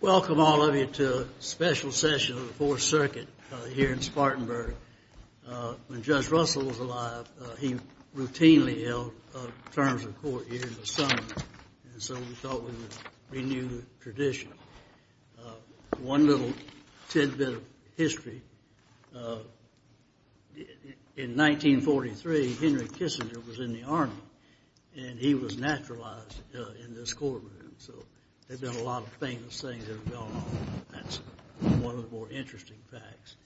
Welcome all of you to a special session of the Fourth Circuit here in Spartanburg. When Judge Russell was alive, he routinely held terms of court here in the summer, so we thought we would renew the tradition. One little tidbit of history, in 1943, Henry Kissinger was in the Army and he was naturalized in this courtroom, so there have been a lot of famous things that have gone on. That's one of the more interesting facts.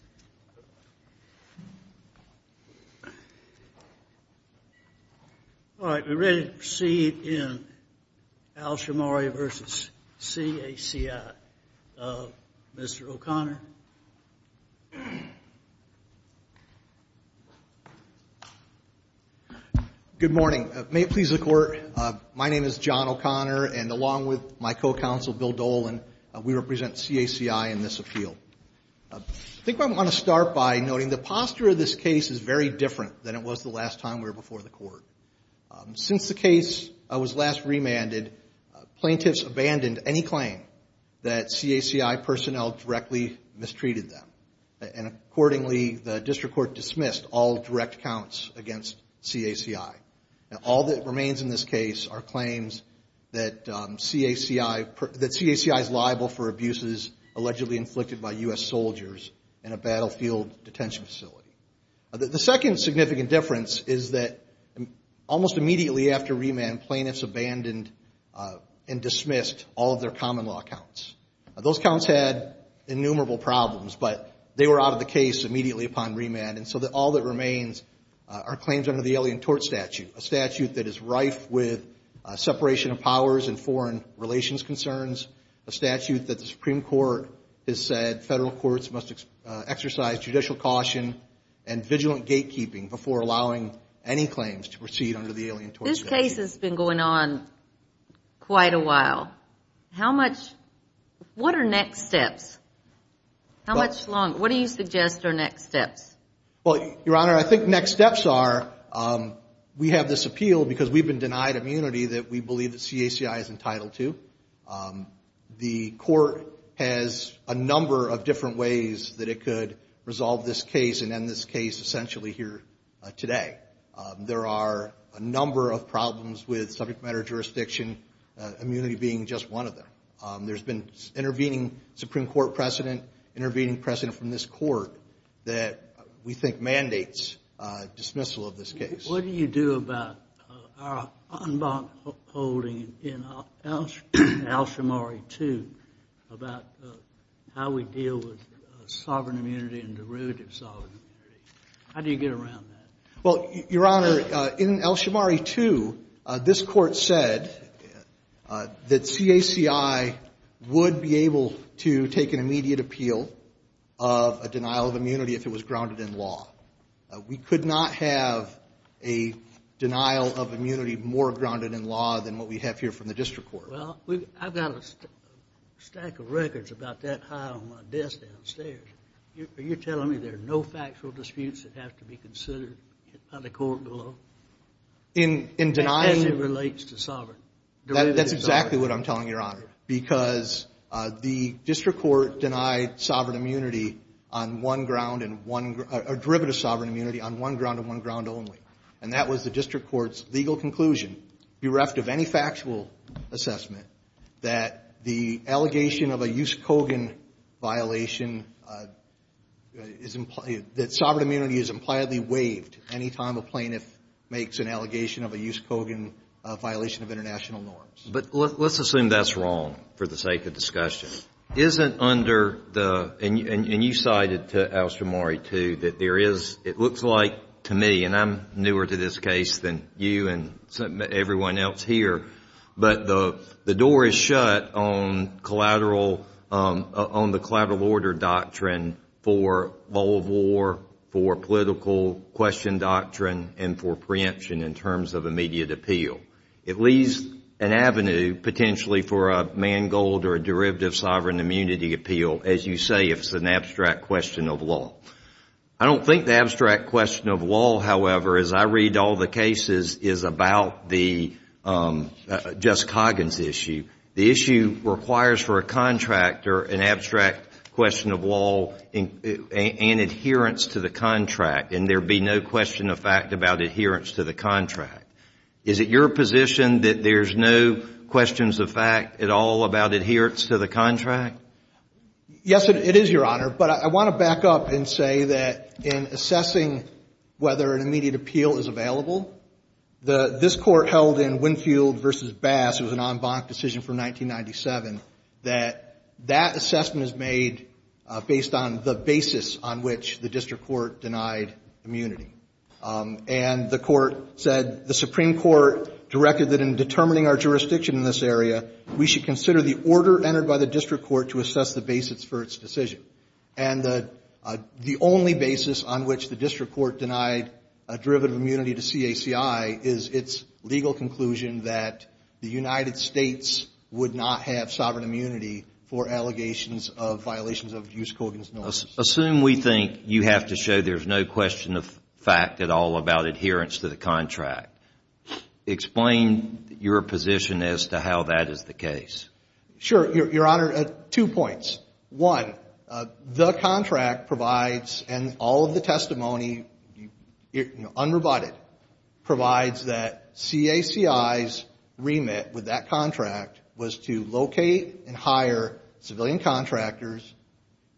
All right, we're ready to proceed in Al Shimari v. CACI. Mr. O'Connor. Good morning. May it please the Court, my name is John O'Connor and along with my co-counsel Bill Dolan, we represent CACI in this appeal. I think I want to start by noting the posture of this case is very different than it was the last time we were before the Court. Since the case was last remanded, plaintiffs abandoned any claim that CACI personnel directly mistreated them. And accordingly, the District Court dismissed all direct counts against CACI. All that remains in this case are claims that CACI is liable for abuses allegedly inflicted by U.S. soldiers in a battlefield detention facility. The second significant difference is that almost immediately after remand, plaintiffs abandoned and dismissed all of their common law counts. Those counts had innumerable problems, but they were out of the case immediately upon remand, and so all that remains are claims under the Alien Tort Statute, a statute that is rife with separation of powers and foreign relations concerns, a statute that the Supreme Court has said federal courts must exercise judicial caution and vigilant gatekeeping before allowing any claims to proceed under the Alien Tort Statute. This case has been going on quite a while. What are next steps? How much longer? What do you suggest are next steps? Well, Your Honor, I think next steps are we have this appeal because we've been denied immunity that we believe that CACI is going to resolve this case and end this case essentially here today. There are a number of problems with subject matter jurisdiction, immunity being just one of them. There's been intervening Supreme Court precedent, intervening precedent from this Court that we think mandates dismissal of this case. What do you do about our unbound holding in Al-Shamari 2 about how we deal with sovereign immunity and derivative sovereign immunity? How do you get around that? Well, Your Honor, in Al-Shamari 2, this Court said that CACI would be able to take an immediate appeal of a denial of immunity if it was grounded in law. We could not have a denial of immunity more grounded in law than what we have here from the District Court. Well, I've got a stack of records about that high on my desk downstairs. Are you telling me there are no factual disputes that have to be considered by the court below? In denying... As it relates to sovereign. That's exactly what I'm telling you, Your Honor, because the District Court denied sovereign immunity on one ground and one ground, or derivative sovereign immunity on one ground and one ground only. And that was the District Court's legal conclusion, bereft of any factual assessment, that the allegation of a Yuskogin violation is implied, that sovereign immunity is impliedly But let's assume that's wrong for the sake of discussion. Isn't under the, and you cited Al-Shamari 2, that there is, it looks like to me, and I'm newer to this case than you and everyone else here, but the door is shut on collateral, on the collateral order doctrine for bowl of war, for political question doctrine, and for preemption in terms of immediate appeal. It leaves an avenue potentially for a man gold or a derivative sovereign immunity appeal, as you say, if it's an abstract question of law. I don't think the abstract question of law, however, as I read all the cases, is about the Yuskogin's issue. The issue requires for a contractor an abstract question of law and adherence to the contract, and there be no question of fact about adherence to the contract. Is it your position that there's no questions of fact at all about adherence to the contract? Yes, it is, Your Honor. But I want to back up and say that in assessing whether an immediate appeal is available, this Court held in Winfield v. Bass, it was an en banc decision from 1997, that that assessment is made based on the basis of the fact that there is no question of fact about adherence to the contract. And that's the basis on which the district court denied immunity. And the court said, the Supreme Court directed that in determining our jurisdiction in this area, we should consider the order entered by the district court to assess the basis for its decision. And the only basis on which the district court denied a derivative immunity to CACI is its legal conclusion that the United States would not have sovereign immunity for allegations of violations of Juskogin's norms. Assume we think you have to show there's no question of fact at all about adherence to the contract. Explain your position as to how that is the case. Sure, Your Honor. Two points. One, the contract provides, and all of the testimony, unrebutted, provides that CACI's remit with that contract was to locate and hire civilian contractors,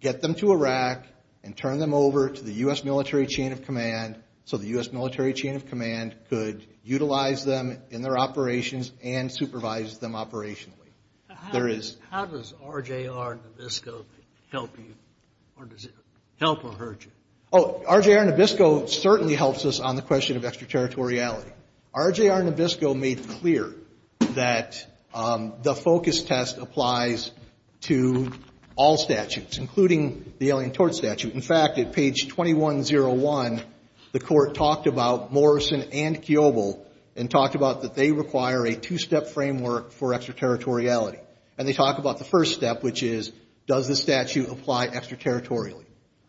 get them to Iraq, and turn them over to the U.S. military chain of command so the U.S. military chain of command could utilize them in their operations and supervise them operationally. How does RJR Nabisco help you, or does it help or hurt you? Oh, RJR Nabisco certainly helps us on the question of extraterritoriality. RJR Nabisco made clear that the focus test was on the question of whether the focus test applies to all statutes, including the Alien Tort Statute. In fact, at page 2101, the Court talked about Morrison and Kiobel and talked about that they require a two-step framework for extraterritoriality. And they talk about the first step, which is, does the statute apply extraterritorially?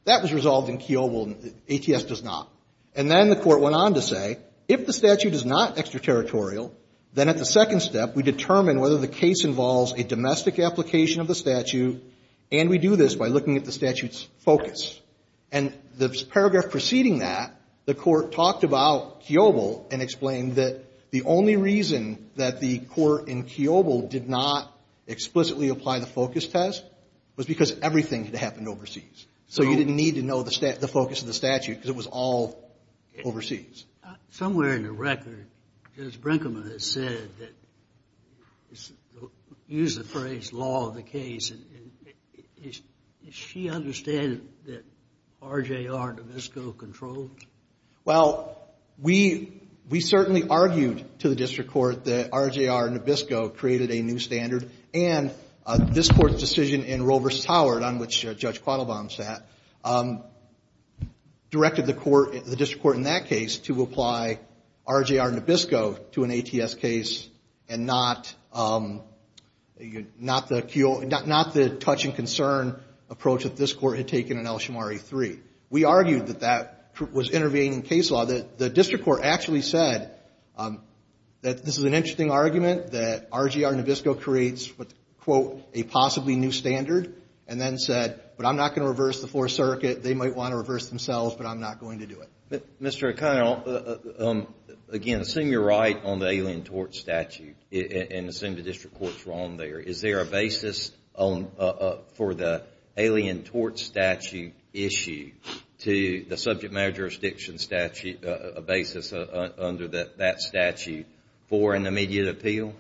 That was resolved in Kiobel. ATS does not. And then the Court went on to say, if the statute is not extraterritorial, then at the second step, we determine whether the case involves a domestic application of the statute, and we do this by looking at the statute's focus. And the paragraph preceding that, the Court talked about Kiobel and explained that the only reason that the Court in Kiobel did not explicitly apply the focus test was because everything had happened overseas. So you didn't need to know the focus of the statute because it was all overseas. Somewhere in the record, Judge Brinkman has said, used the phrase, law of the case. Does she understand that R.J.R. Nabisco controlled? Well, we certainly argued to the District Court that R.J.R. Nabisco created a new standard, and this Court's decision in Roe v. Howard, on which Judge Quattlebaum sat, directed the Court, the District Court in that case, to apply R.J.R. Nabisco to an ATS case and not the touch-and-concern approach that this Court had taken in El Shomari 3. We argued that that was intervening in case law. The District Court actually said that this is an interesting argument, that R.J.R. Nabisco creates, quote, a possibly new standard, and then said, but I'm not going to reverse the Fourth Circuit. They might want to reverse themselves, but I'm not going to do it. Mr. O'Connor, again, assume you're right on the Alien Tort Statute, and assume the District Court's wrong there. Is there a basis for the Alien Tort Statute issue to the subject matter jurisdiction statute, a basis under that statute, for an immediate appeal?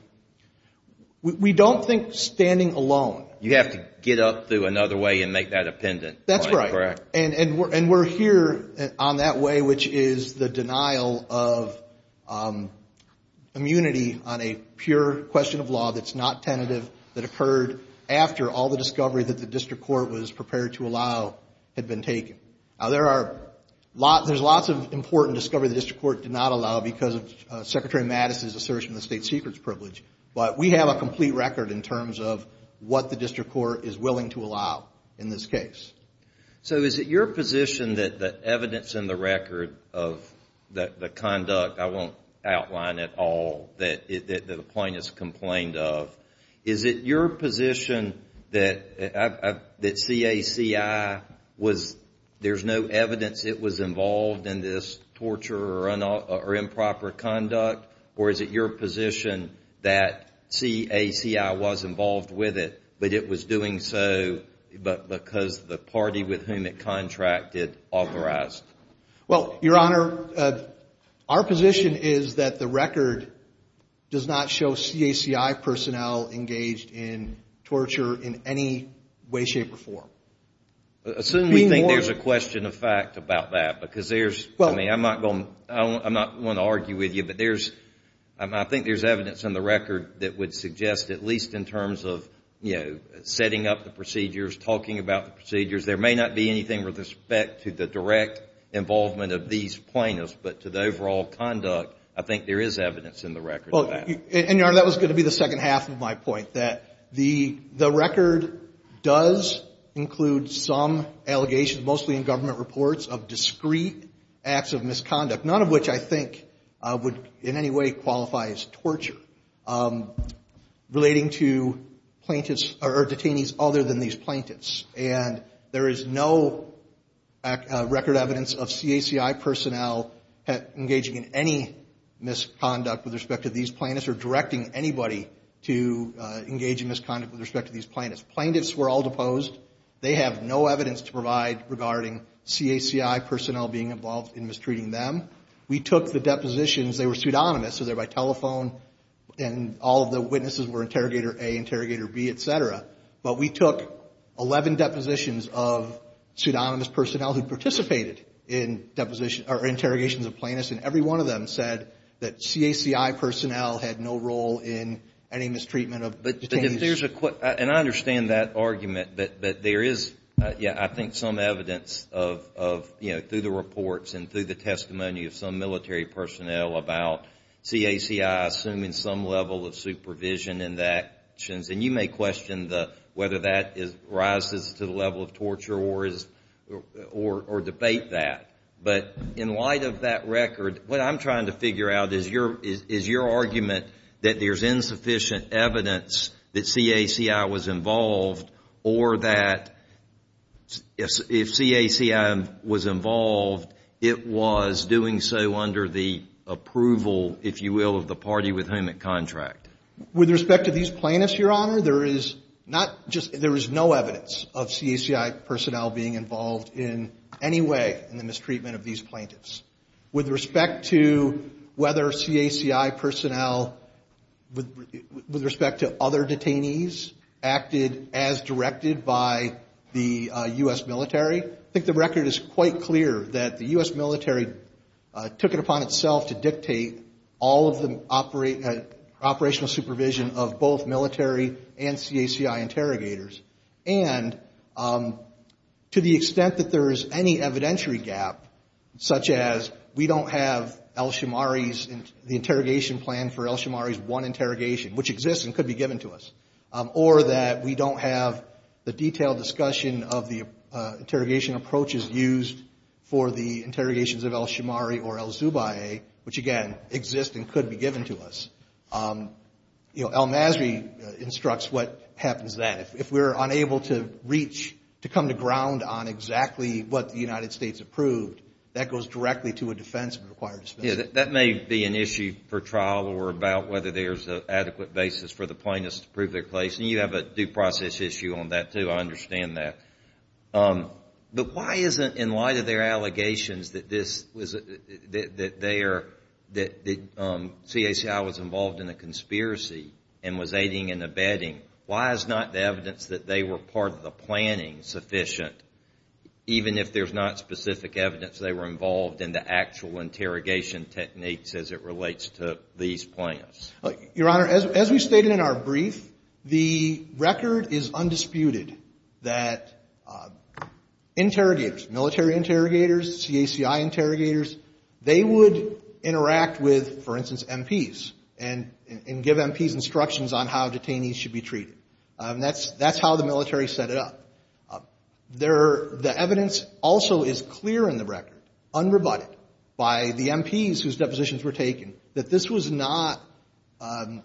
We don't think standing alone. You have to get up through another way and make that appendant. That's right. And we're here on that way, which is the denial of immunity on a pure question of law that's not tentative, that occurred after all the discovery that the District Court was prepared to allow had been taken. Now, there's lots of important discovery the District Court did not allow because of Secretary Mattis' assertion of the state secret's privilege, but we have a complete record in terms of what the District Court is willing to allow in this case. So is it your position that the evidence in the record of the conduct, I won't outline it all, that the plaintiffs complained of, is it your position that CACI was, there's no evidence it was involved in this torture or improper conduct, or is it your position that CACI was involved with it, but it was doing so because the party with whom it contracted authorized it? Well, Your Honor, our position is that the record does not show CACI personnel engaged in torture in any way, shape, or form. Assume we think there's a question of fact about that, because there's, I'm not going to argue with you, but I think there's evidence in the record that would suggest at least in terms of, you know, setting up the procedures, talking about the procedures. There may not be anything with respect to the direct involvement of these plaintiffs, but to the overall conduct, I think there is evidence in the record of that. And, Your Honor, that was going to be the second half of my point, that the record does include some in any way qualifies torture relating to plaintiffs or detainees other than these plaintiffs. And there is no record evidence of CACI personnel engaging in any misconduct with respect to these plaintiffs or directing anybody to engage in misconduct with respect to these plaintiffs. Plaintiffs were all deposed. They have no evidence to provide regarding CACI personnel being involved in mistreating them. We took the depositions. They were pseudonymous, so they're by telephone, and all of the witnesses were Interrogator A, Interrogator B, et cetera. But we took 11 depositions of pseudonymous personnel who participated in interrogations of plaintiffs, and every one of them said that CACI personnel had no role in any evidence of, you know, through the reports and through the testimony of some military personnel about CACI assuming some level of supervision in the actions. And you may question whether that rises to the level of torture or debate that. But in light of that record, what I'm trying to figure out is your argument that there is CACI was involved, it was doing so under the approval, if you will, of the party with whom it contracted. With respect to these plaintiffs, Your Honor, there is not just, there is no evidence of CACI personnel being involved in any way in the mistreatment of these plaintiffs. With respect to whether CACI personnel, with respect to other detainees, acted as directed by the U.S. military, I think the record is quite clear that the U.S. military took it upon itself to dictate all of the operational supervision of both military and CACI interrogators. And to the extent that there is any evidentiary gap, such as we don't have El Shomari's, the interrogation plan for El Shomari's one interrogation, which exists and could be given to us, or that we don't have the detailed discussion of the interrogation approaches used for the interrogations of El Shomari or El Zubayeh, which again, exists and could be given to us, you know, El Masri instructs what happens then. If we're unable to come to ground on exactly what the United States approved, that goes directly to a defense of a required dismissal. That may be an issue for trial or about whether there's an adequate basis for the plaintiffs to prove their case. And you have a due process issue on that, too. I understand that. But why isn't, in light of their allegations that this was, that they are, that CACI was involved in a conspiracy and was aiding and abetting, why is not the evidence that they were part of the planning sufficient, even if there's not specific evidence they were involved in the actual interrogation techniques as it relates to these plans? Your Honor, as we stated in our brief, the record is undisputed that interrogators, military interrogators, CACI should be treated. And that's how the military set it up. The evidence also is clear in the record, unrebutted, by the MPs whose depositions were taken, that this was not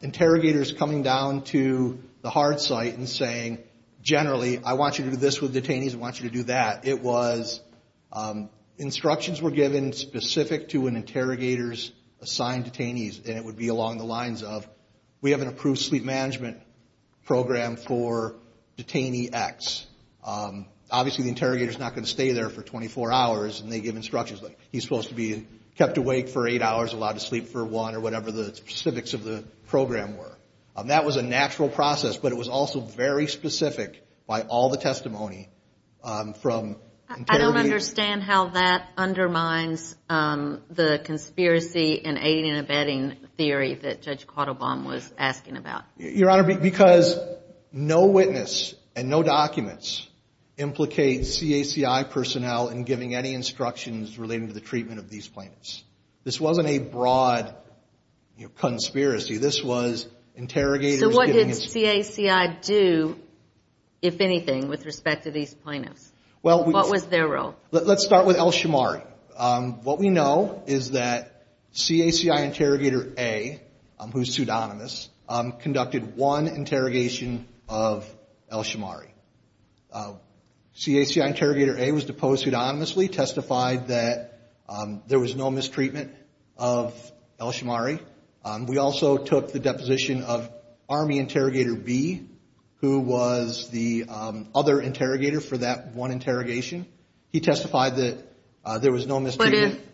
interrogators coming down to the hard site and saying, generally, I want you to do this with detainees, I want you to do that. It was instructions were given specific to an interrogator's assigned detainees, and it would be along the lines of, we have an approved sleep management program for detainee X. Obviously, the interrogator's not going to stay there for 24 hours, and they give instructions, like, he's supposed to be kept awake for eight hours, allowed to sleep for one, or whatever the specifics of the program were. That was a natural process, but it was also very specific by all the testimony from interrogators. I don't understand how that undermines the conspiracy and aiding and abetting theory that Judge Quattlebaum was asking about. Your Honor, because no witness and no documents implicate CACI personnel in giving any instructions relating to the treatment of these plaintiffs. This wasn't a broad conspiracy. This was interrogators giving instructions. So what did CACI do, if anything, with respect to these plaintiffs? What was their role? Let's start with El Shomari. What we know is that CACI Interrogator A, who's pseudonymous, conducted one interrogation of El Shomari. CACI Interrogator A was deposed pseudonymously, testified that there was no mistreatment of El Shomari. We also took the deposition of Army Interrogator B, who was the other interrogator for that one interrogation. He testified that there was no mistreatment. But if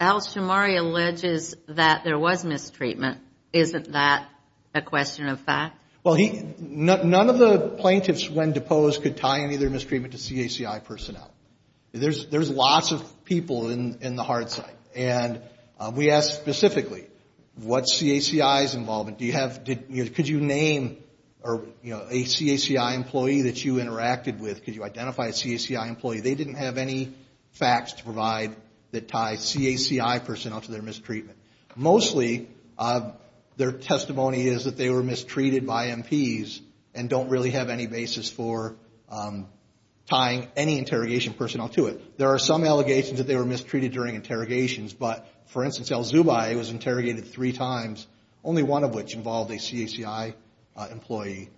El Shomari alleges that there was mistreatment, isn't that a question of fact? Well, none of the plaintiffs, when deposed, could tie any of their mistreatment to CACI personnel. There's lots of people in the hard side. And we asked specifically, what's CACI's involvement? Could you name a CACI employee that you interacted with? Could you identify a CACI employee? They didn't have any facts to provide that tie CACI personnel to their mistreatment. Mostly, their testimony is that they were mistreated by MPs and don't really have any basis for tying any interrogation personnel to it. There are some allegations that they were mistreated during interrogations. But, for instance, El Zubay was interrogated three times, only one of which involved a CACI employee.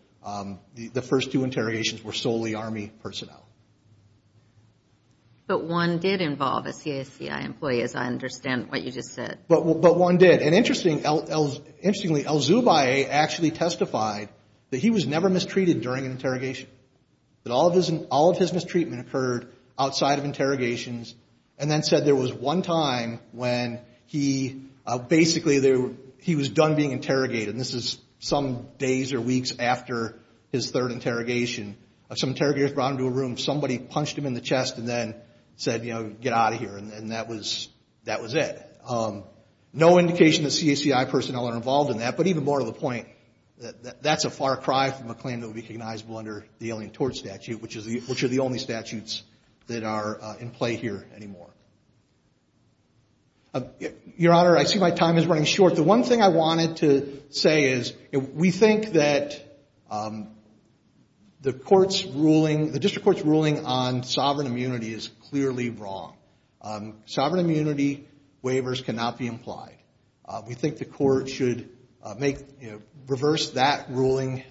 The first two interrogations were solely Army personnel. But one did involve a CACI employee, as I understand what you just said. But one did. And interestingly, El Zubay actually testified that he was never mistreated during an interrogation. That all of his mistreatment occurred outside of interrogations and then said there was one time when he, basically, he was done being interrogated. And this is some days or weeks after his third interrogation. Some interrogators brought him to a room. Somebody punched him in the chest and then said, you know, get out of here. And that was it. No indication that CACI personnel are involved in that. But even more to the point, that's a far cry from a claim that would be recognizable under the Alien Tort Statute, which are the only statutes that are in play here anymore. Your Honor, I see my time is running short. The one thing I wanted to say is, we think that the court's ruling, the district court's ruling on sovereign immunity is clearly wrong. Sovereign immunity waivers cannot be implied. We think the court should make, you know, reverse that ruling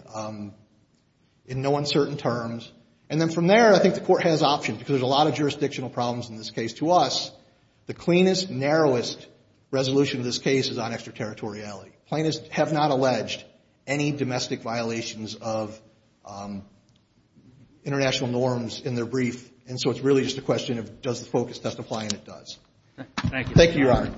in no uncertain terms. And then from there, I think the court has options. Because there's a lot of jurisdictional problems in this case. To us, the cleanest, narrowest resolution of this case is on extraterritoriality. Plaintiffs have not alleged any domestic violations of international norms in their brief. And so it's really just a question of does the focus testify, and it does. Thank you, Your Honor.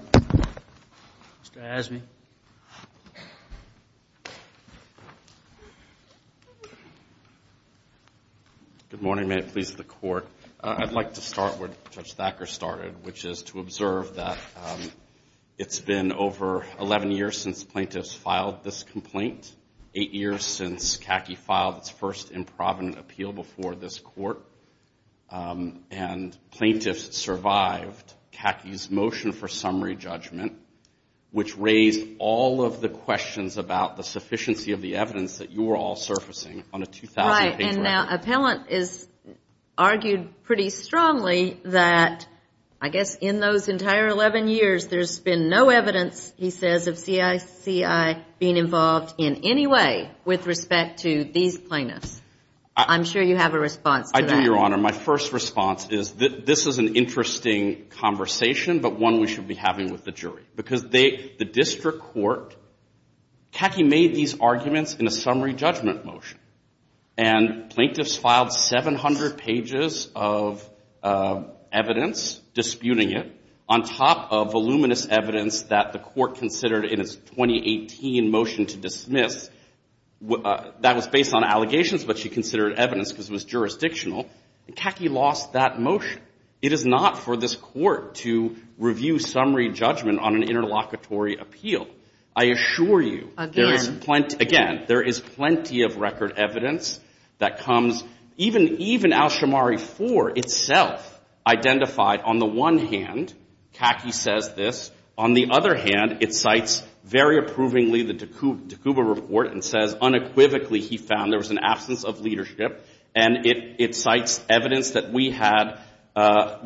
Good morning. May it please the Court. I'd like to start where Judge Thacker started, which is to observe that it's been over 11 years since plaintiffs filed this complaint. Eight years since CACI filed its first improvident appeal before this Court. And plaintiffs survived CACI's motion for summary judgment, which raised all of the questions about the sufficiency of the evidence that you are all surfacing on a 2,000-page record. Right. And now, appellant is argued pretty much a question of whether it's been a sufficient summary judgment that the Court has given the plaintiffs. And if so, this is an interesting conversation, but one we should be having with the jury. Because the District Court, CACI made these arguments in a summary judgment motion. And plaintiffs filed 700 pages of evidence, disputing it, on top of voluminous evidence that CACI lost that motion. It is not for this Court to review summary judgment on an interlocutory appeal. I assure you there is plenty of record evidence that comes, even Al-Shammari 4 itself, identified on the one hand, CACI says this, on the other hand, it cites very approvingly the Dekuba report and says unequivocally he found there was an absence of evidence that we had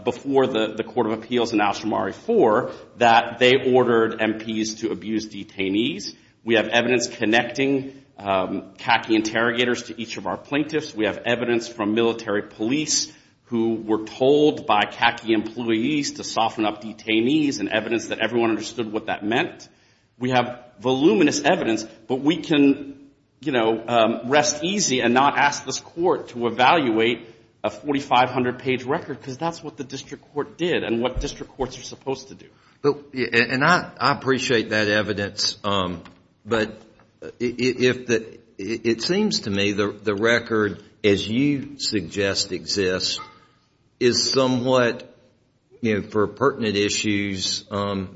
before the Court of Appeals in Al-Shammari 4 that they ordered MPs to abuse detainees. We have evidence connecting CACI interrogators to each of our plaintiffs. We have evidence from military police who were told by CACI employees to soften up detainees and evidence that everyone understood what that meant. We have voluminous evidence, but we can, you know, it's not for this Court to evaluate a 4,500-page record, because that's what the district court did and what district courts are supposed to do. And I appreciate that evidence, but it seems to me the record, as you suggest exists, is somewhat, you know, for pertinent issues,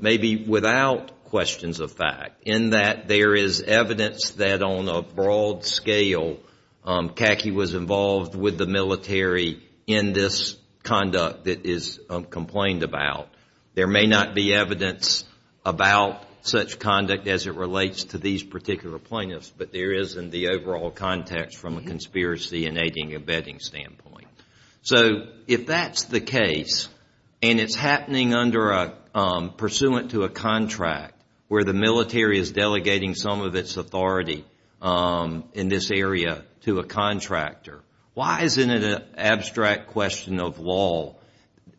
maybe without questions of fact, in that there is evidence that on a broad scale CACI was able to do that. And I'm not saying that CACI is involved with the military in this conduct that is complained about. There may not be evidence about such conduct as it relates to these particular plaintiffs, but there is in the overall context from a conspiracy and aiding and abetting standpoint. So if that's the case, and it's happening pursuant to a contract where the military is delegating some of its authority in this area to a contractor, why isn't it an abstract question of law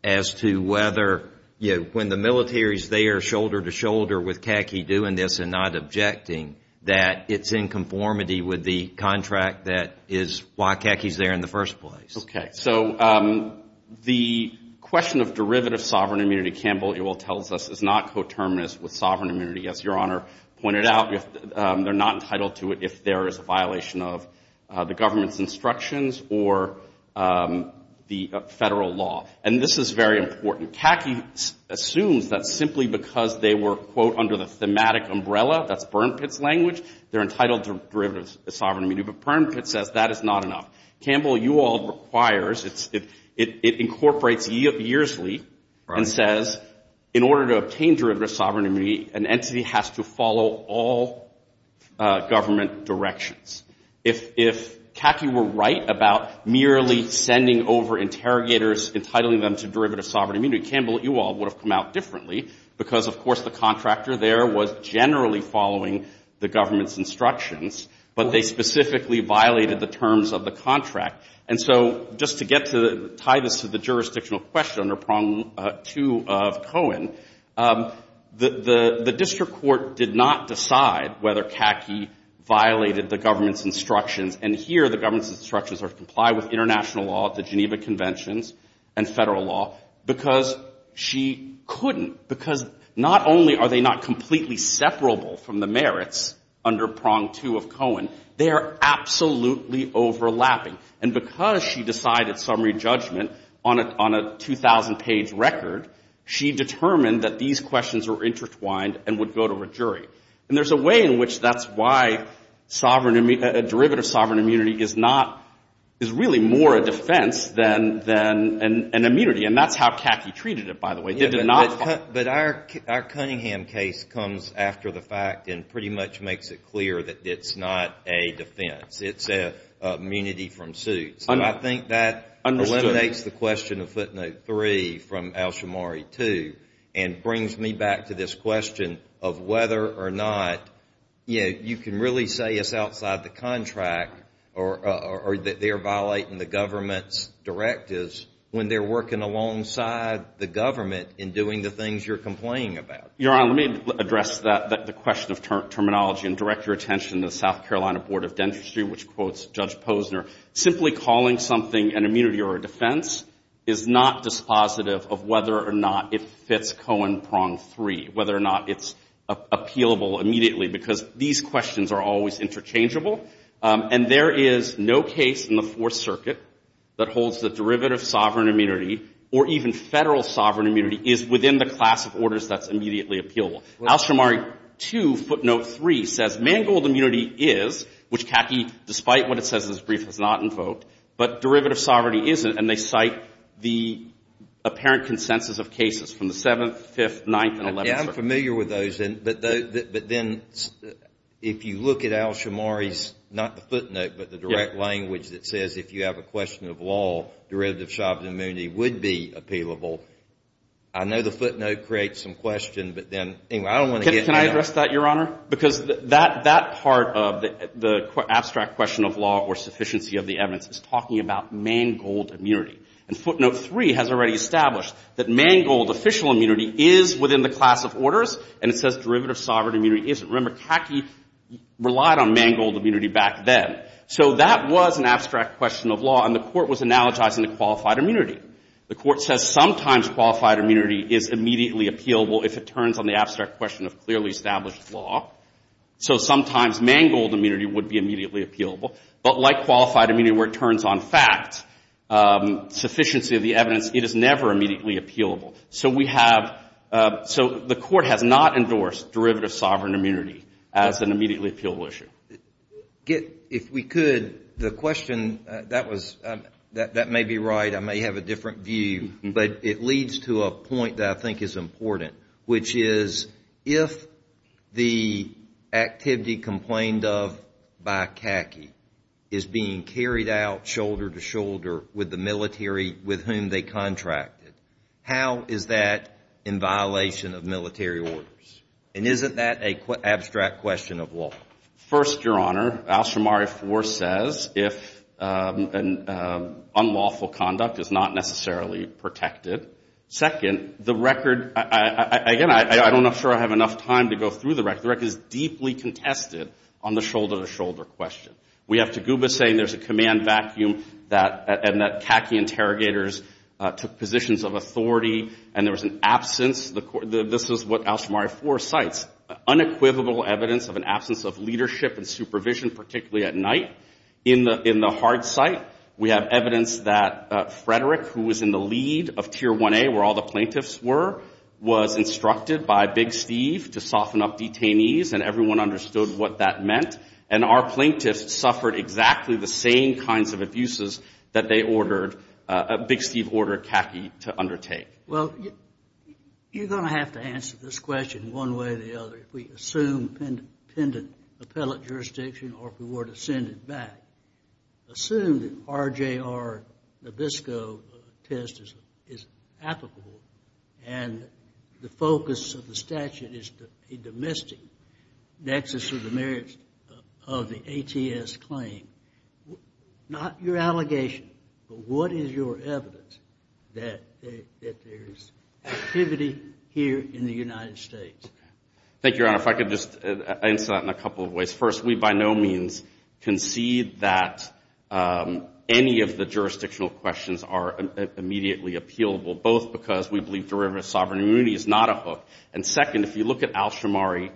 as to whether, you know, when the military is there shoulder-to-shoulder with CACI doing this and not objecting, that it's in conformity with the contract that is why CACI is there in the first place? Okay. So the question of derivative sovereign immunity, Campbell, you will tell us, is not coterminous with sovereign immunity. As Your Honor pointed out, they're not entitled to it if there is a violation of the government's instructions or the federal law. And this is very important. CACI assumes that simply because they were, quote, under the thematic umbrella, that's Burnpit's language, they're entitled to derivative sovereign immunity. But Burnpit says that is not enough. Campbell, you all requires, it incorporates ye of derivative sovereign immunity. An entity has to follow all government directions. If CACI were right about merely sending over interrogators, entitling them to derivative sovereign immunity, Campbell, you all would have come out differently because, of course, the contractor there was generally following the government's instructions, but they specifically violated the terms of the contract. And so just to get to the, tie this to the jurisdictional question under prong two of Cohen, the, the, the, the, the, the, the, the, the, the, the district court did not decide whether CACI violated the government's instructions. And here the government's instructions are to comply with international law at the Geneva Conventions and federal law because she couldn't, because not only are they not completely separable from the merits under prong two of Cohen, they are absolutely overlapping. And because she decided summary judgment on a, on a 2,000 page record, she determined that these questions were intertwined and would go to a jury. And there's a way in which that's why sovereign, derivative sovereign immunity is not, is really more a defense than, than an, an immunity. And that's how CACI treated it, by the way. They did not follow. But our, our Cunningham case comes after the fact and pretty much makes it clear that it's not a defense. It's a immunity from suits. And I think that eliminates the question of footnote three from Alshamari two and brings me back to this question of whether or not, you know, you can really say it's outside the contract or, or that they're violating the government's directives when they're working alongside the government in doing the things you're complaining about. Your Honor, let me address that, the question of terminology and direct your attention to the South Carolina Board of Dentistry, which quotes Judge Posner. Simply calling something an immunity or a defense is not dispositive of whether or not it fits Cohen prong three, whether or not it's appealable immediately, because these questions are always interchangeable. And there is no case in the Fourth Circuit that holds the question of whether or not it's directly appealable. Alshamari two footnote three says man-gold immunity is, which CACI, despite what it says in its brief, has not invoked, but derivative sovereignty isn't. And they cite the apparent consensus of cases from the 7th, 5th, 9th, and 11th circuits. I'm familiar with those, but then if you look at Alshamari's, not the footnote, but the direct language that says if you have a question of law, derivative sovereign immunity would be appealable, I know the footnote creates some question, but then, anyway, I don't want to get into that. Can I address that, Your Honor? Because that part of the abstract question of law or sufficiency of the evidence is talking about man-gold immunity. And footnote three has already established that man-gold official immunity is within the class of orders, and it says derivative sovereign immunity isn't. Remember, CACI relied on man-gold immunity back then. So that was an abstract question of law, and the court was analogizing to qualified immunity. The court says sometimes qualified immunity is immediately appealable if it turns on the abstract question of clearly established law. So sometimes man-gold immunity would be immediately appealable. But like qualified immunity where it turns on fact, sufficiency of the evidence, it is never immediately appealable. So we have, so the court has not endorsed derivative sovereign immunity as an immediately appealable issue. If we could, the question, that may be right, I may have a different view, but it leads to a point that I think is important, which is if the activity complained of by CACI is being carried out shoulder to shoulder with the military with whom they contracted, how is that in the context of law? First, your Honor, Al-Shamari 4 says if unlawful conduct is not necessarily protected. Second, the record, again, I'm not sure I have enough time to go through the record. The record is deeply contested on the shoulder-to-shoulder question. We have Toguba saying there's a command vacuum and that CACI interrogators took positions of authority and there was an absence. This is what Al-Shamari 4 cites, a unequivocal evidence of an absence of leadership and supervision, particularly at night. In the hard cite, we have evidence that Frederick, who was in the lead of Tier 1A where all the plaintiffs were, was instructed by Big Steve to soften up detainees and everyone understood what that meant. And our plaintiffs suffered exactly the same kinds of abuses that they ordered, Big Steve ordered CACI to soften up detainees. Your Honor, if I could just answer that in a couple of ways. First, we by no means concede that any of the jurisdictional questions are immediately appealable, both because we believe derivative sovereign immunity is not a hook. And second, if you look at Al-Shamari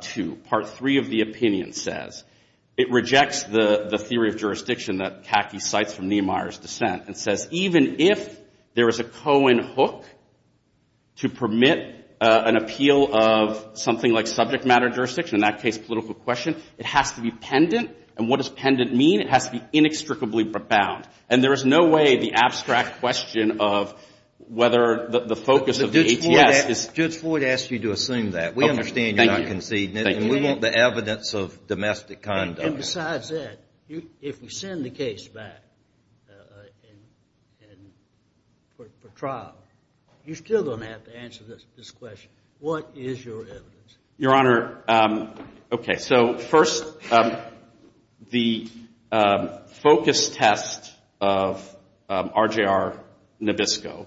2, Part 3 of the opinion says it rejects the theory of jurisdiction that CACI cites from Niemeyer's dissent and says even if there is a subject matter jurisdiction, in that case political question, it has to be pendent. And what does pendent mean? It has to be inextricably profound. And there is no way the abstract question of whether the focus of the ATS is... Judge Floyd asked you to assume that. We understand you're not conceding it. And we want the evidence of domestic conduct. And besides that, if we send the case back for trial, you're still going to have to answer this question. What is your evidence? Your Honor, okay, so first the focus test of RJR Nabisco,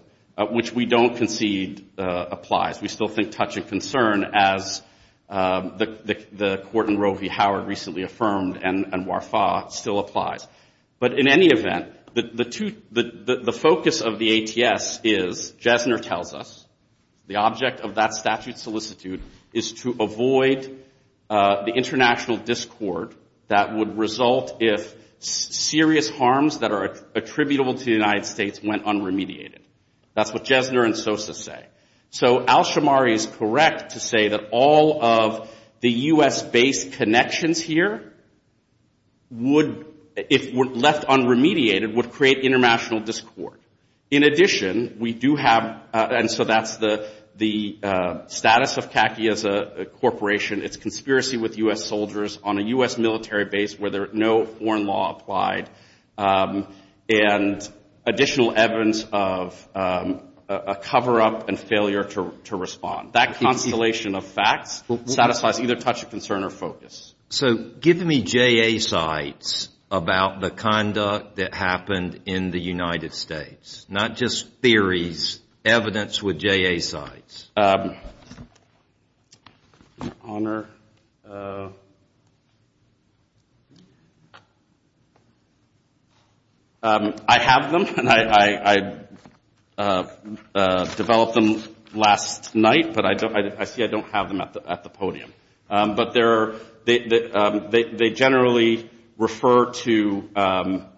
which we don't concede applies. We still think touch and concern as the court in Roe v. Howard recently affirmed and WARFAH still applies. But in any event, the focus of the ATS is, Jesner tells us, the object of that statute solicitude is to avoid the international discord that would result if serious harms that are attributable to the United States went unremediated. That's what Jesner and Sosa say. So Al-Shamari is correct to say that all of the U.S.-based connections here would, if left unremediated, would create international discord. In addition, we do have, and so that's the... status of CACI as a corporation, its conspiracy with U.S. soldiers on a U.S. military base where no foreign law applied, and additional evidence of a cover-up and failure to respond. That constellation of facts satisfies either touch and concern or focus. So give me JA sites about the conduct that happened in the United States, not just theories, evidence with JA sites. I have them. I developed them last night, but I see I don't have them at the podium. But they generally refer to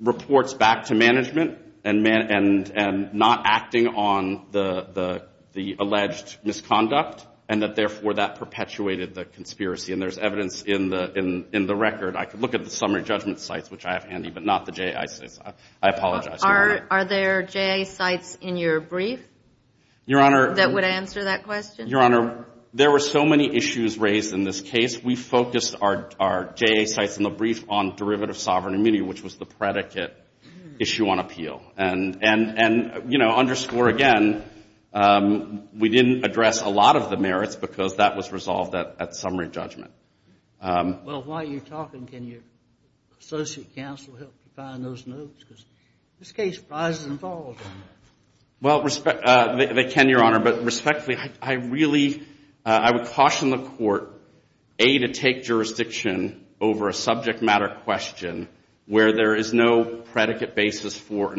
reports back to the U.S. military base where the U.S. military had alleged misconduct and that, therefore, that perpetuated the conspiracy. And there's evidence in the record. I could look at the summary judgment sites, which I have handy, but not the JA sites. I apologize. Are there JA sites in your brief that would answer that question? Your Honor, there were so many issues raised in this case, we focused our JA sites in the brief on derivative sovereign immunity, which was the one that didn't address a lot of the merits because that was resolved at summary judgment. Well, while you're talking, can your associate counsel help define those notes? Because in this case, Fries is involved. Well, they can, Your Honor, but respectfully, I really, I would caution the Court, A, to take jurisdiction over a subject matter question where there is no basis. That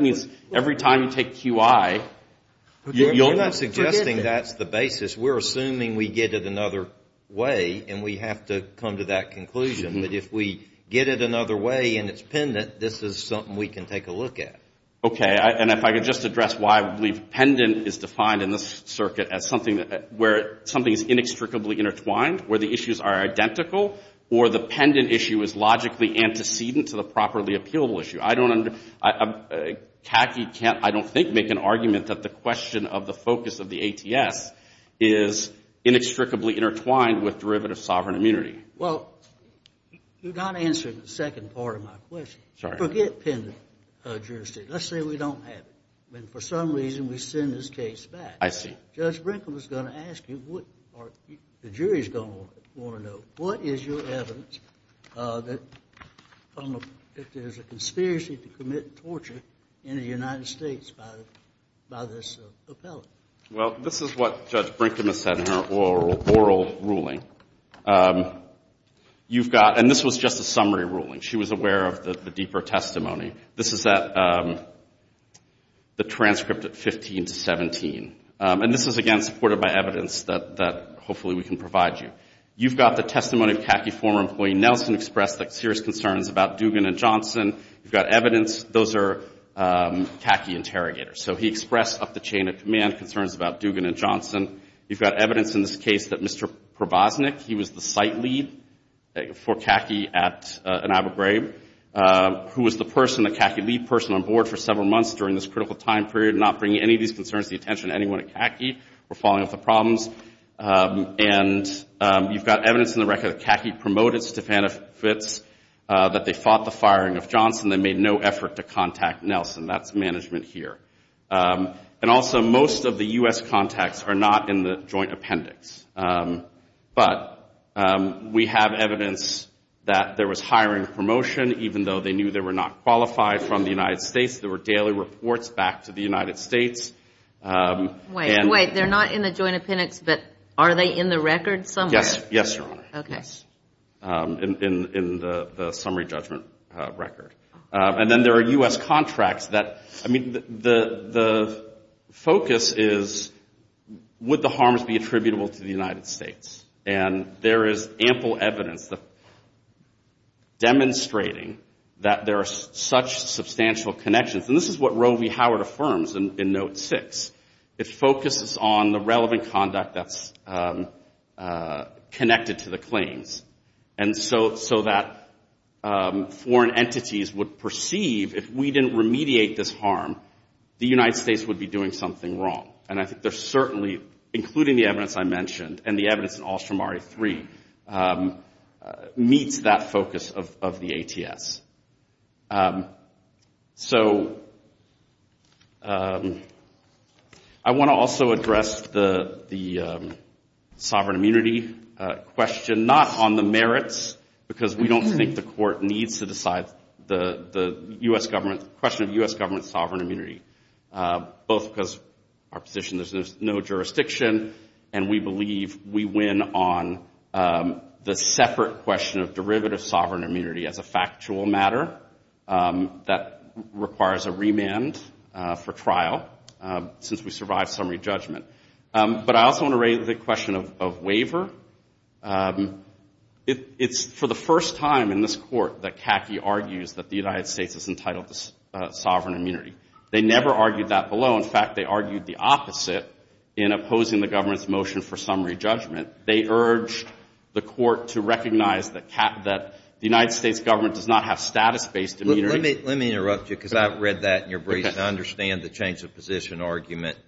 means every time you take QI, you'll not... You're not suggesting that's the basis. We're assuming we get it another way, and we have to come to that conclusion. But if we get it another way, and it's pendent, this is something we can take a look at. Okay. And if I could just address why I believe pendent is defined in this circuit as something where something is inextricably intertwined, where the issues are tacky, can't, I don't think, make an argument that the question of the focus of the ATS is inextricably intertwined with derivative sovereign immunity. Well, you're not answering the second part of my question. Forget pendent jurisdiction. Let's say we don't have it. I mean, for some reason, we send this case back. I see. Judge Brinkle is going to ask you, or the jury is going to want to know, what is your evidence that there's a conspiracy to commit torture in this case? In the United States, by this appellate? Well, this is what Judge Brinkle has said in her oral ruling. You've got, and this was just a summary ruling. She was aware of the deeper testimony. This is the transcript at 15 to 17. And this is, again, supported by evidence that hopefully we can provide you. You've got the testimony of khaki former employee Nelson expressed serious concerns about Dugan and Johnson. You've got evidence. Those are khaki interrogators. So he expressed up the chain of command concerns about Dugan and Johnson. You've got evidence in this case that Mr. Probosnick, he was the site lead for khaki at Anabergrave, who was the person, the khaki lead person on board for several months during this critical time period, not bringing any of these concerns to the attention of anyone at khaki or falling off the problems. And you've got evidence in the record that khaki promoted Stephana Fitz, that they fought the firing of Johnson. They made no effort to contact Nelson. That's management here. And also most of the U.S. contacts are not in the joint appendix. But we have evidence that there was hiring promotion, even though they knew they were not qualified from the United States. There were daily reports back to the United States. Wait, wait. They're not in the joint appendix, but are they in the record somewhere? Yes, Your Honor. In the summary judgment record. And then there are U.S. contracts that, I mean, the focus is, would the harms be attributable to the United States? And there is ample evidence demonstrating that there are such substantial connections. And this is what Roe v. Howard affirms in Note 6. It focuses on the connection to the claims. And so that foreign entities would perceive if we didn't remediate this harm, the United States would be doing something wrong. And I think there's certainly, including the evidence I mentioned, and the evidence in Alstom R.A. 3, meets that focus of the ATS. So I want to also address the sovereign immunity issue. I think it's a very important issue. And I think it's a very important issue. And I want to raise the question not on the merits, because we don't think the court needs to decide the U.S. government, the question of U.S. government's sovereign immunity. Both because our position is there's no jurisdiction, and we believe we win on the separate question of derivative sovereign immunity as a factual matter that requires a remand for trial, since we survived summary judgment. But I also want to raise the question of waiver. It's for the first time in this court that CACI argues that the United States is entitled to sovereign immunity. They never argued that below. In fact, they argued the opposite in opposing the government's motion for summary judgment. They urged the court to recognize that the United States government does not have status-based immunity. Let me interrupt you, because I've read that in your brief, and I understand the change of position argument.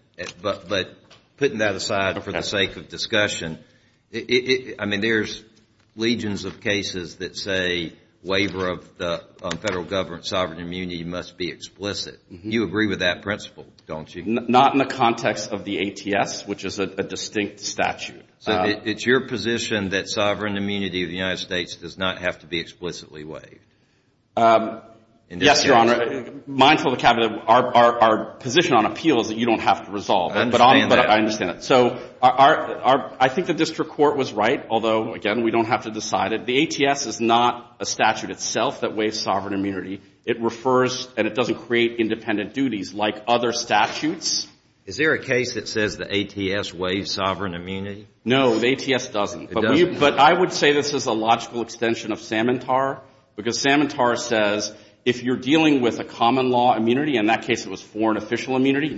But putting that aside for the sake of discussion, I mean, there's legions of cases that say waiver of the federal government's sovereign immunity must be explicit. You agree with that principle, don't you? Not in the context of the ATS, which is a distinct statute. So it's your position that sovereign immunity of the United States does not have to be explicitly waived? Yes, Your Honor. Mindful of the cabinet, our position on appeal is that you don't have to resolve it. I understand that. So I think the district court was right, although, again, we don't have to decide it. The ATS is not a statute itself that waives sovereign immunity. It refers and it doesn't create independent duties like other statutes. Is there a case that says the ATS waives sovereign immunity? No, the ATS doesn't. But I would say this is a logical extension of Samantar, because Samantar says if you're dealing with a common law immunity, in that statute, but for an official immunity,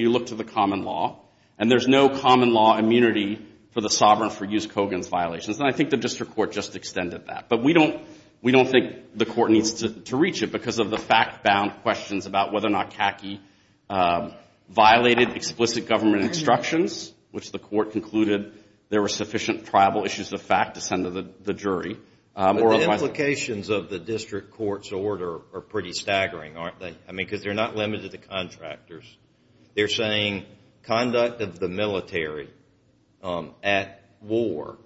you look to the common law, and there's no common law immunity for the sovereign for use Kogan's violations. And I think the district court just extended that. But we don't think the court needs to reach it because of the fact-bound questions about whether or not Kaki violated explicit government instructions, which the court concluded there were sufficient tribal issues of fact to send to the jury. The implications of the district court's order are pretty staggering, aren't they? Because they're not limited to contractors. They're saying conduct of the military at war,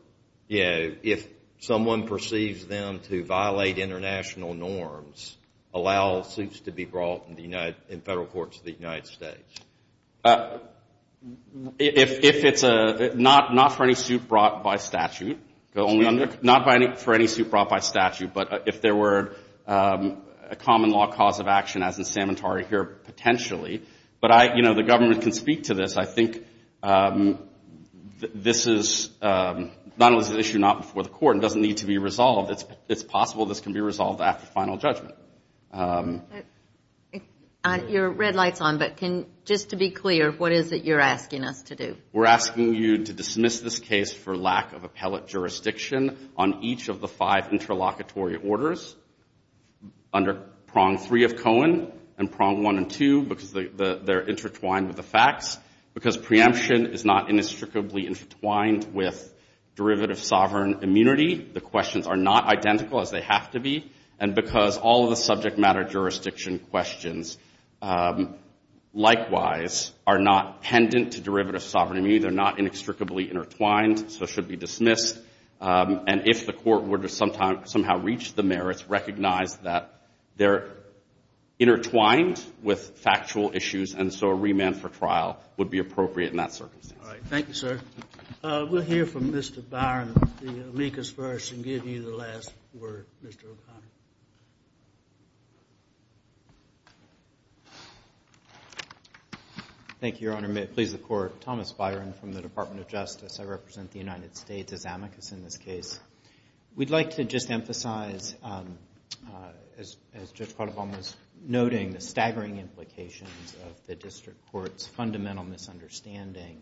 if someone perceives them to violate international norms, allow suits to be brought in federal courts of the United States. If it's not for any suit brought by statute, but if there were a common law cause of action, as in Samantar here, potentially, but the government can speak to this. I think this is an issue not before the court and doesn't need to be resolved. It's possible this can be resolved after final judgment. But... Your red light's on, but just to be clear, what is it you're asking us to do? We're asking you to dismiss this case for lack of appellate jurisdiction on each of the five interlocutory orders under prong three of Kogan and prong one and two, because they're intertwined with the facts. Because preemption is not inextricably intertwined with derivative sovereign immunity, the questions are not identical as they have to be. And because all of the subject matter jurisdiction questions, likewise, are not pendant to derivative sovereign immunity, they're not inextricably intertwined, so should be dismissed. And if the court were to somehow reach the merits, recognize that they're intertwined with factual issues, and so a remand for trial would be appropriate in that circumstance. All right. Thank you, sir. We'll hear from Mr. Byron, the amicus first, and give you the last word, Mr. O'Connor. Thank you, Your Honor. May it please the Court, Thomas Byron from the Department of Justice. I represent the United States as amicus in this case. We'd like to just emphasize, as Judge Caldebaum was noting, the staggering implications of the District Court's fundamental misunderstanding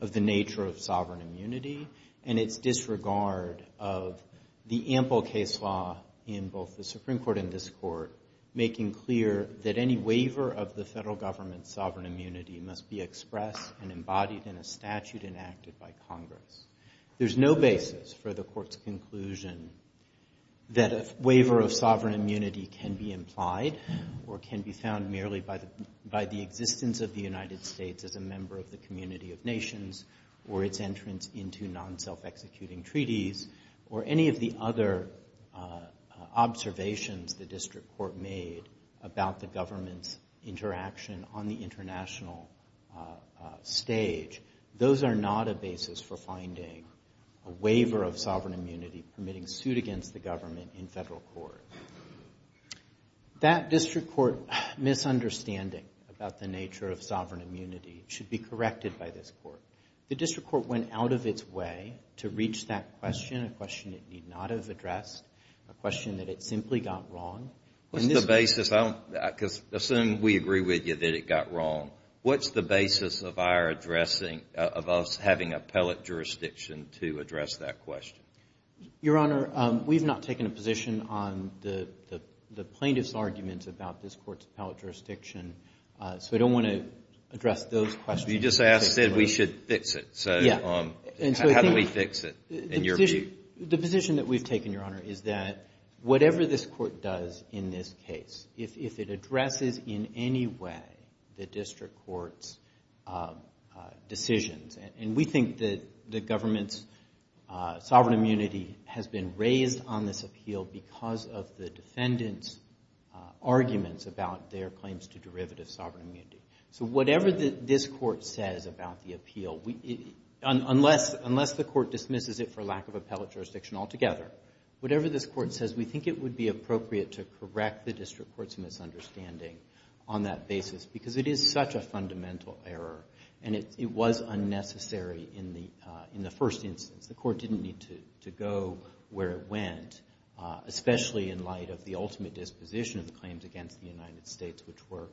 of the nature of sovereign immunity and its disregard of the ample case law in both the Supreme Court and this Court. Making clear that any waiver of the Federal Government's sovereign immunity must be expressed and embodied in a statute enacted by Congress. There's no basis for the Court's conclusion that a waiver of sovereign immunity can be implied or can be found merely by the existence of the United States as a member of the community of nations or its entrance into non-self-executing treaties or any of the other observations the District Court has made. The District Court went out of its way to reach that question, a question it need not have addressed, a question that it simply got wrong. The District Court went out of its way to address that question, a question it need not have addressed, a question that it simply got wrong. What's the basis, because assume we agree with you that it got wrong, what's the basis of our addressing, of us having appellate jurisdiction to address that question? Your Honor, we've not taken a position on the plaintiff's arguments about this Court's appellate jurisdiction, so I don't want to address those questions. You just said we should fix it, so how do we fix it in your view? The position that we've taken, Your Honor, is that whatever this Court does in this case, if it addresses in any way the District Court's decisions, and we think that the government's sovereign immunity has been raised on this appeal because of the defendant's arguments about their claims to derivative sovereign immunity. So whatever this Court says about the appeal, unless the Court dismisses it for lack of appellate jurisdiction altogether, whatever this Court says, we think it would be appropriate to correct the District Court's misunderstanding on that basis, because it is such a fundamental error, and it was unnecessary in the first instance. The Court didn't need to go where it went, especially in light of the ultimate disposition of the claims against the United States, which were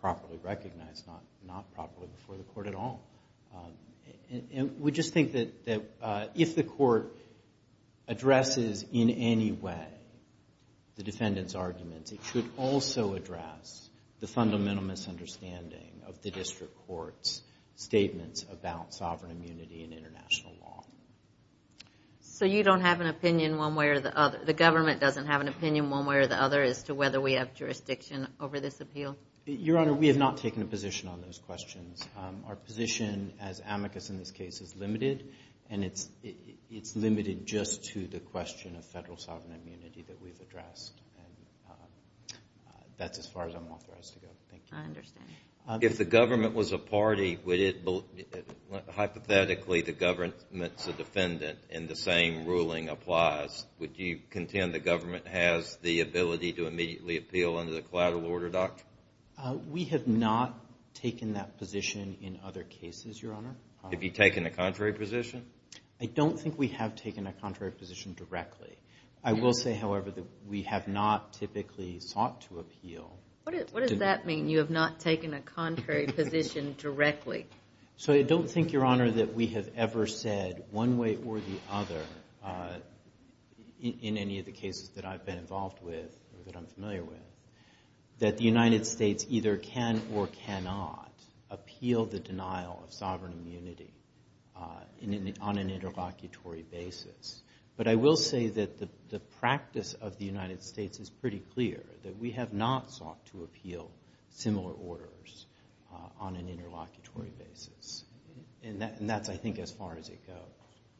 properly recognized, not properly before the Court at all. We just think that if the Court addresses in any way the defendant's arguments, it should also address the fundamental misunderstanding of the District Court's statements about sovereign immunity in international law. So you don't have an opinion one way or the other? The government doesn't have an opinion one way or the other as to whether we have jurisdiction over this appeal? Your Honor, we have not taken a position on those questions. Our position as amicus in this case is limited, and it's limited just to the question of federal sovereign immunity that we've addressed, and that's as far as I'm authorized to go. Thank you. I understand. If the government was a party, hypothetically the government's a defendant and the same ruling applies, would you contend the government has the ability to immediately appeal under the collateral order doctrine? We have not taken that position in other cases, Your Honor. Have you taken a contrary position? I don't think we have taken a contrary position directly. I will say, however, that we have not typically sought to appeal. What does that mean, you have not taken a contrary position directly? So I don't think, Your Honor, that we have ever said one way or the other in any of the cases that I've been involved with or that I'm familiar with that the United States either can or cannot appeal the denial of sovereign immunity on an interlocutory basis. But I will say that the practice of the United States is pretty clear, that we have not sought to appeal similar orders on an interlocutory basis. And that's, I think, as far as it goes.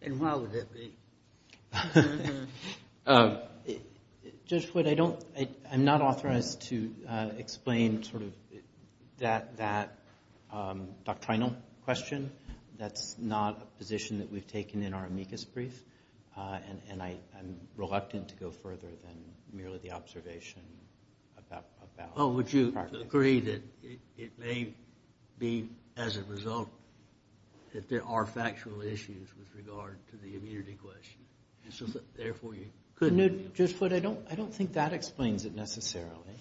And why would that be? Judge Wood, I'm not authorized to explain sort of that doctrinal question. That's not a position that we've taken in our amicus brief, and I'm reluctant to go further than merely the observation about the practice. Well, would you agree that it may be, as a result, that there are factual issues with regard to the immunity question? Judge Wood, I don't think that explains it necessarily.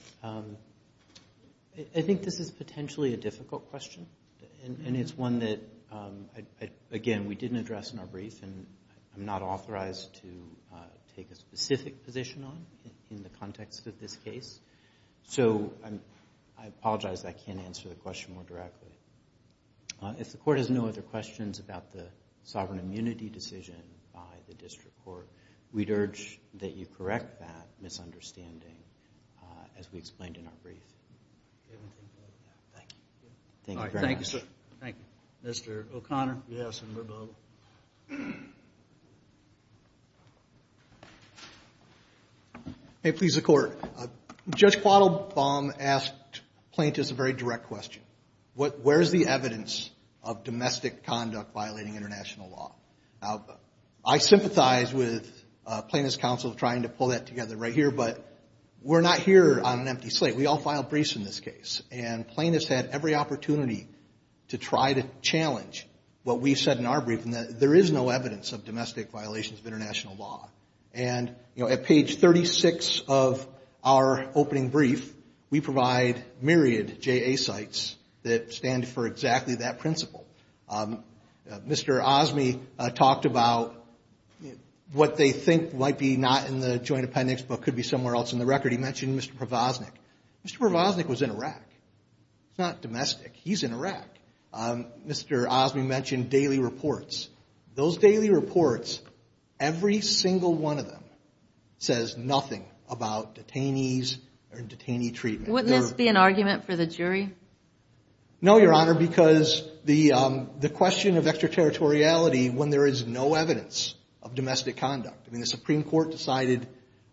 I think this is potentially a difficult question, and it's one that, again, we didn't address in our brief and I'm not authorized to take a specific position on in the context of this case. So I apologize that I can't answer the question more directly. If the Court has no other questions about the sovereign immunity decision by the District Court, we'd urge that you correct that misunderstanding as we explained in our brief. Thank you. Thank you very much. Thank you. Mr. O'Connor. Yes, and we're both. Okay. May it please the Court. Judge Quattlebaum asked plaintiffs a very direct question. Where is the evidence of domestic conduct violating international law? Now, I sympathize with plaintiffs' counsel trying to pull that together right here, but we're not here on an empty slate. We all file briefs in this case, and plaintiffs had every opportunity to try to challenge what we said in our brief, and there is no evidence of domestic violations of international law. And, you know, at page 36 of our opening brief, we provide myriad JA sites that stand for exactly that principle. Mr. Osme talked about what they think might be not in the joint appendix but could be somewhere else in the record. He mentioned Mr. Provosnick. Mr. Provosnick was in Iraq. He's not domestic. He's in Iraq. Mr. Osme mentioned daily reports. Those daily reports, every single one of them says nothing about detainees or detainee treatment. Wouldn't this be an argument for the jury? No, Your Honor, because the question of extraterritoriality when there is no evidence of domestic conduct. I mean, the Supreme Court decided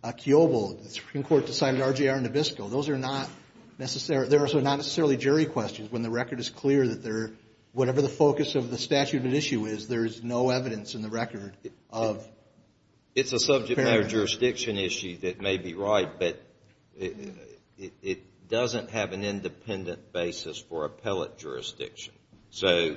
Kyobo. The Supreme Court decided RJR Nabisco. Those are not necessarily jury questions when the record is clear that whatever the focus of the statute of an issue is, there is no evidence in the record. It's a subject matter jurisdiction issue that may be right, but it doesn't have an independent basis for appellate jurisdiction. So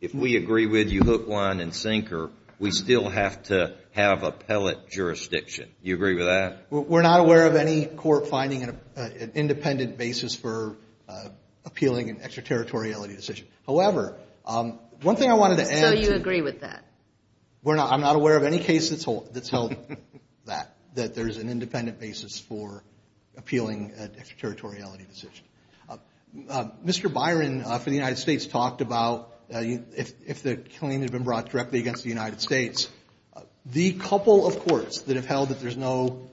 if we agree with you hook, line, and sinker, we still have to have appellate jurisdiction. Do you agree with that? We're not aware of any court finding an independent basis for appealing an extraterritoriality decision. However, one thing I wanted to add. So you agree with that? I'm not aware of any case that's held that there's an independent basis for appealing an extraterritoriality decision. Mr. Byron for the United States talked about if the claim had been brought directly against the United States. The couple of courts that have held that there's no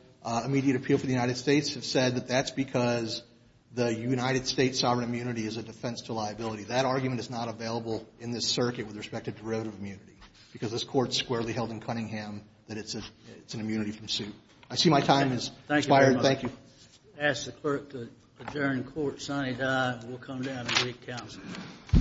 immediate appeal for the United States have said that that's because the United States sovereign immunity is a defense to liability. That argument is not available in this circuit with respect to derivative immunity because this court squarely held in Cunningham that it's an immunity from suit. I see my time has expired. Thank you. Thank you. I ask the clerk to adjourn court. Sonny Dye will come down and lead counsel. The court is adjourned.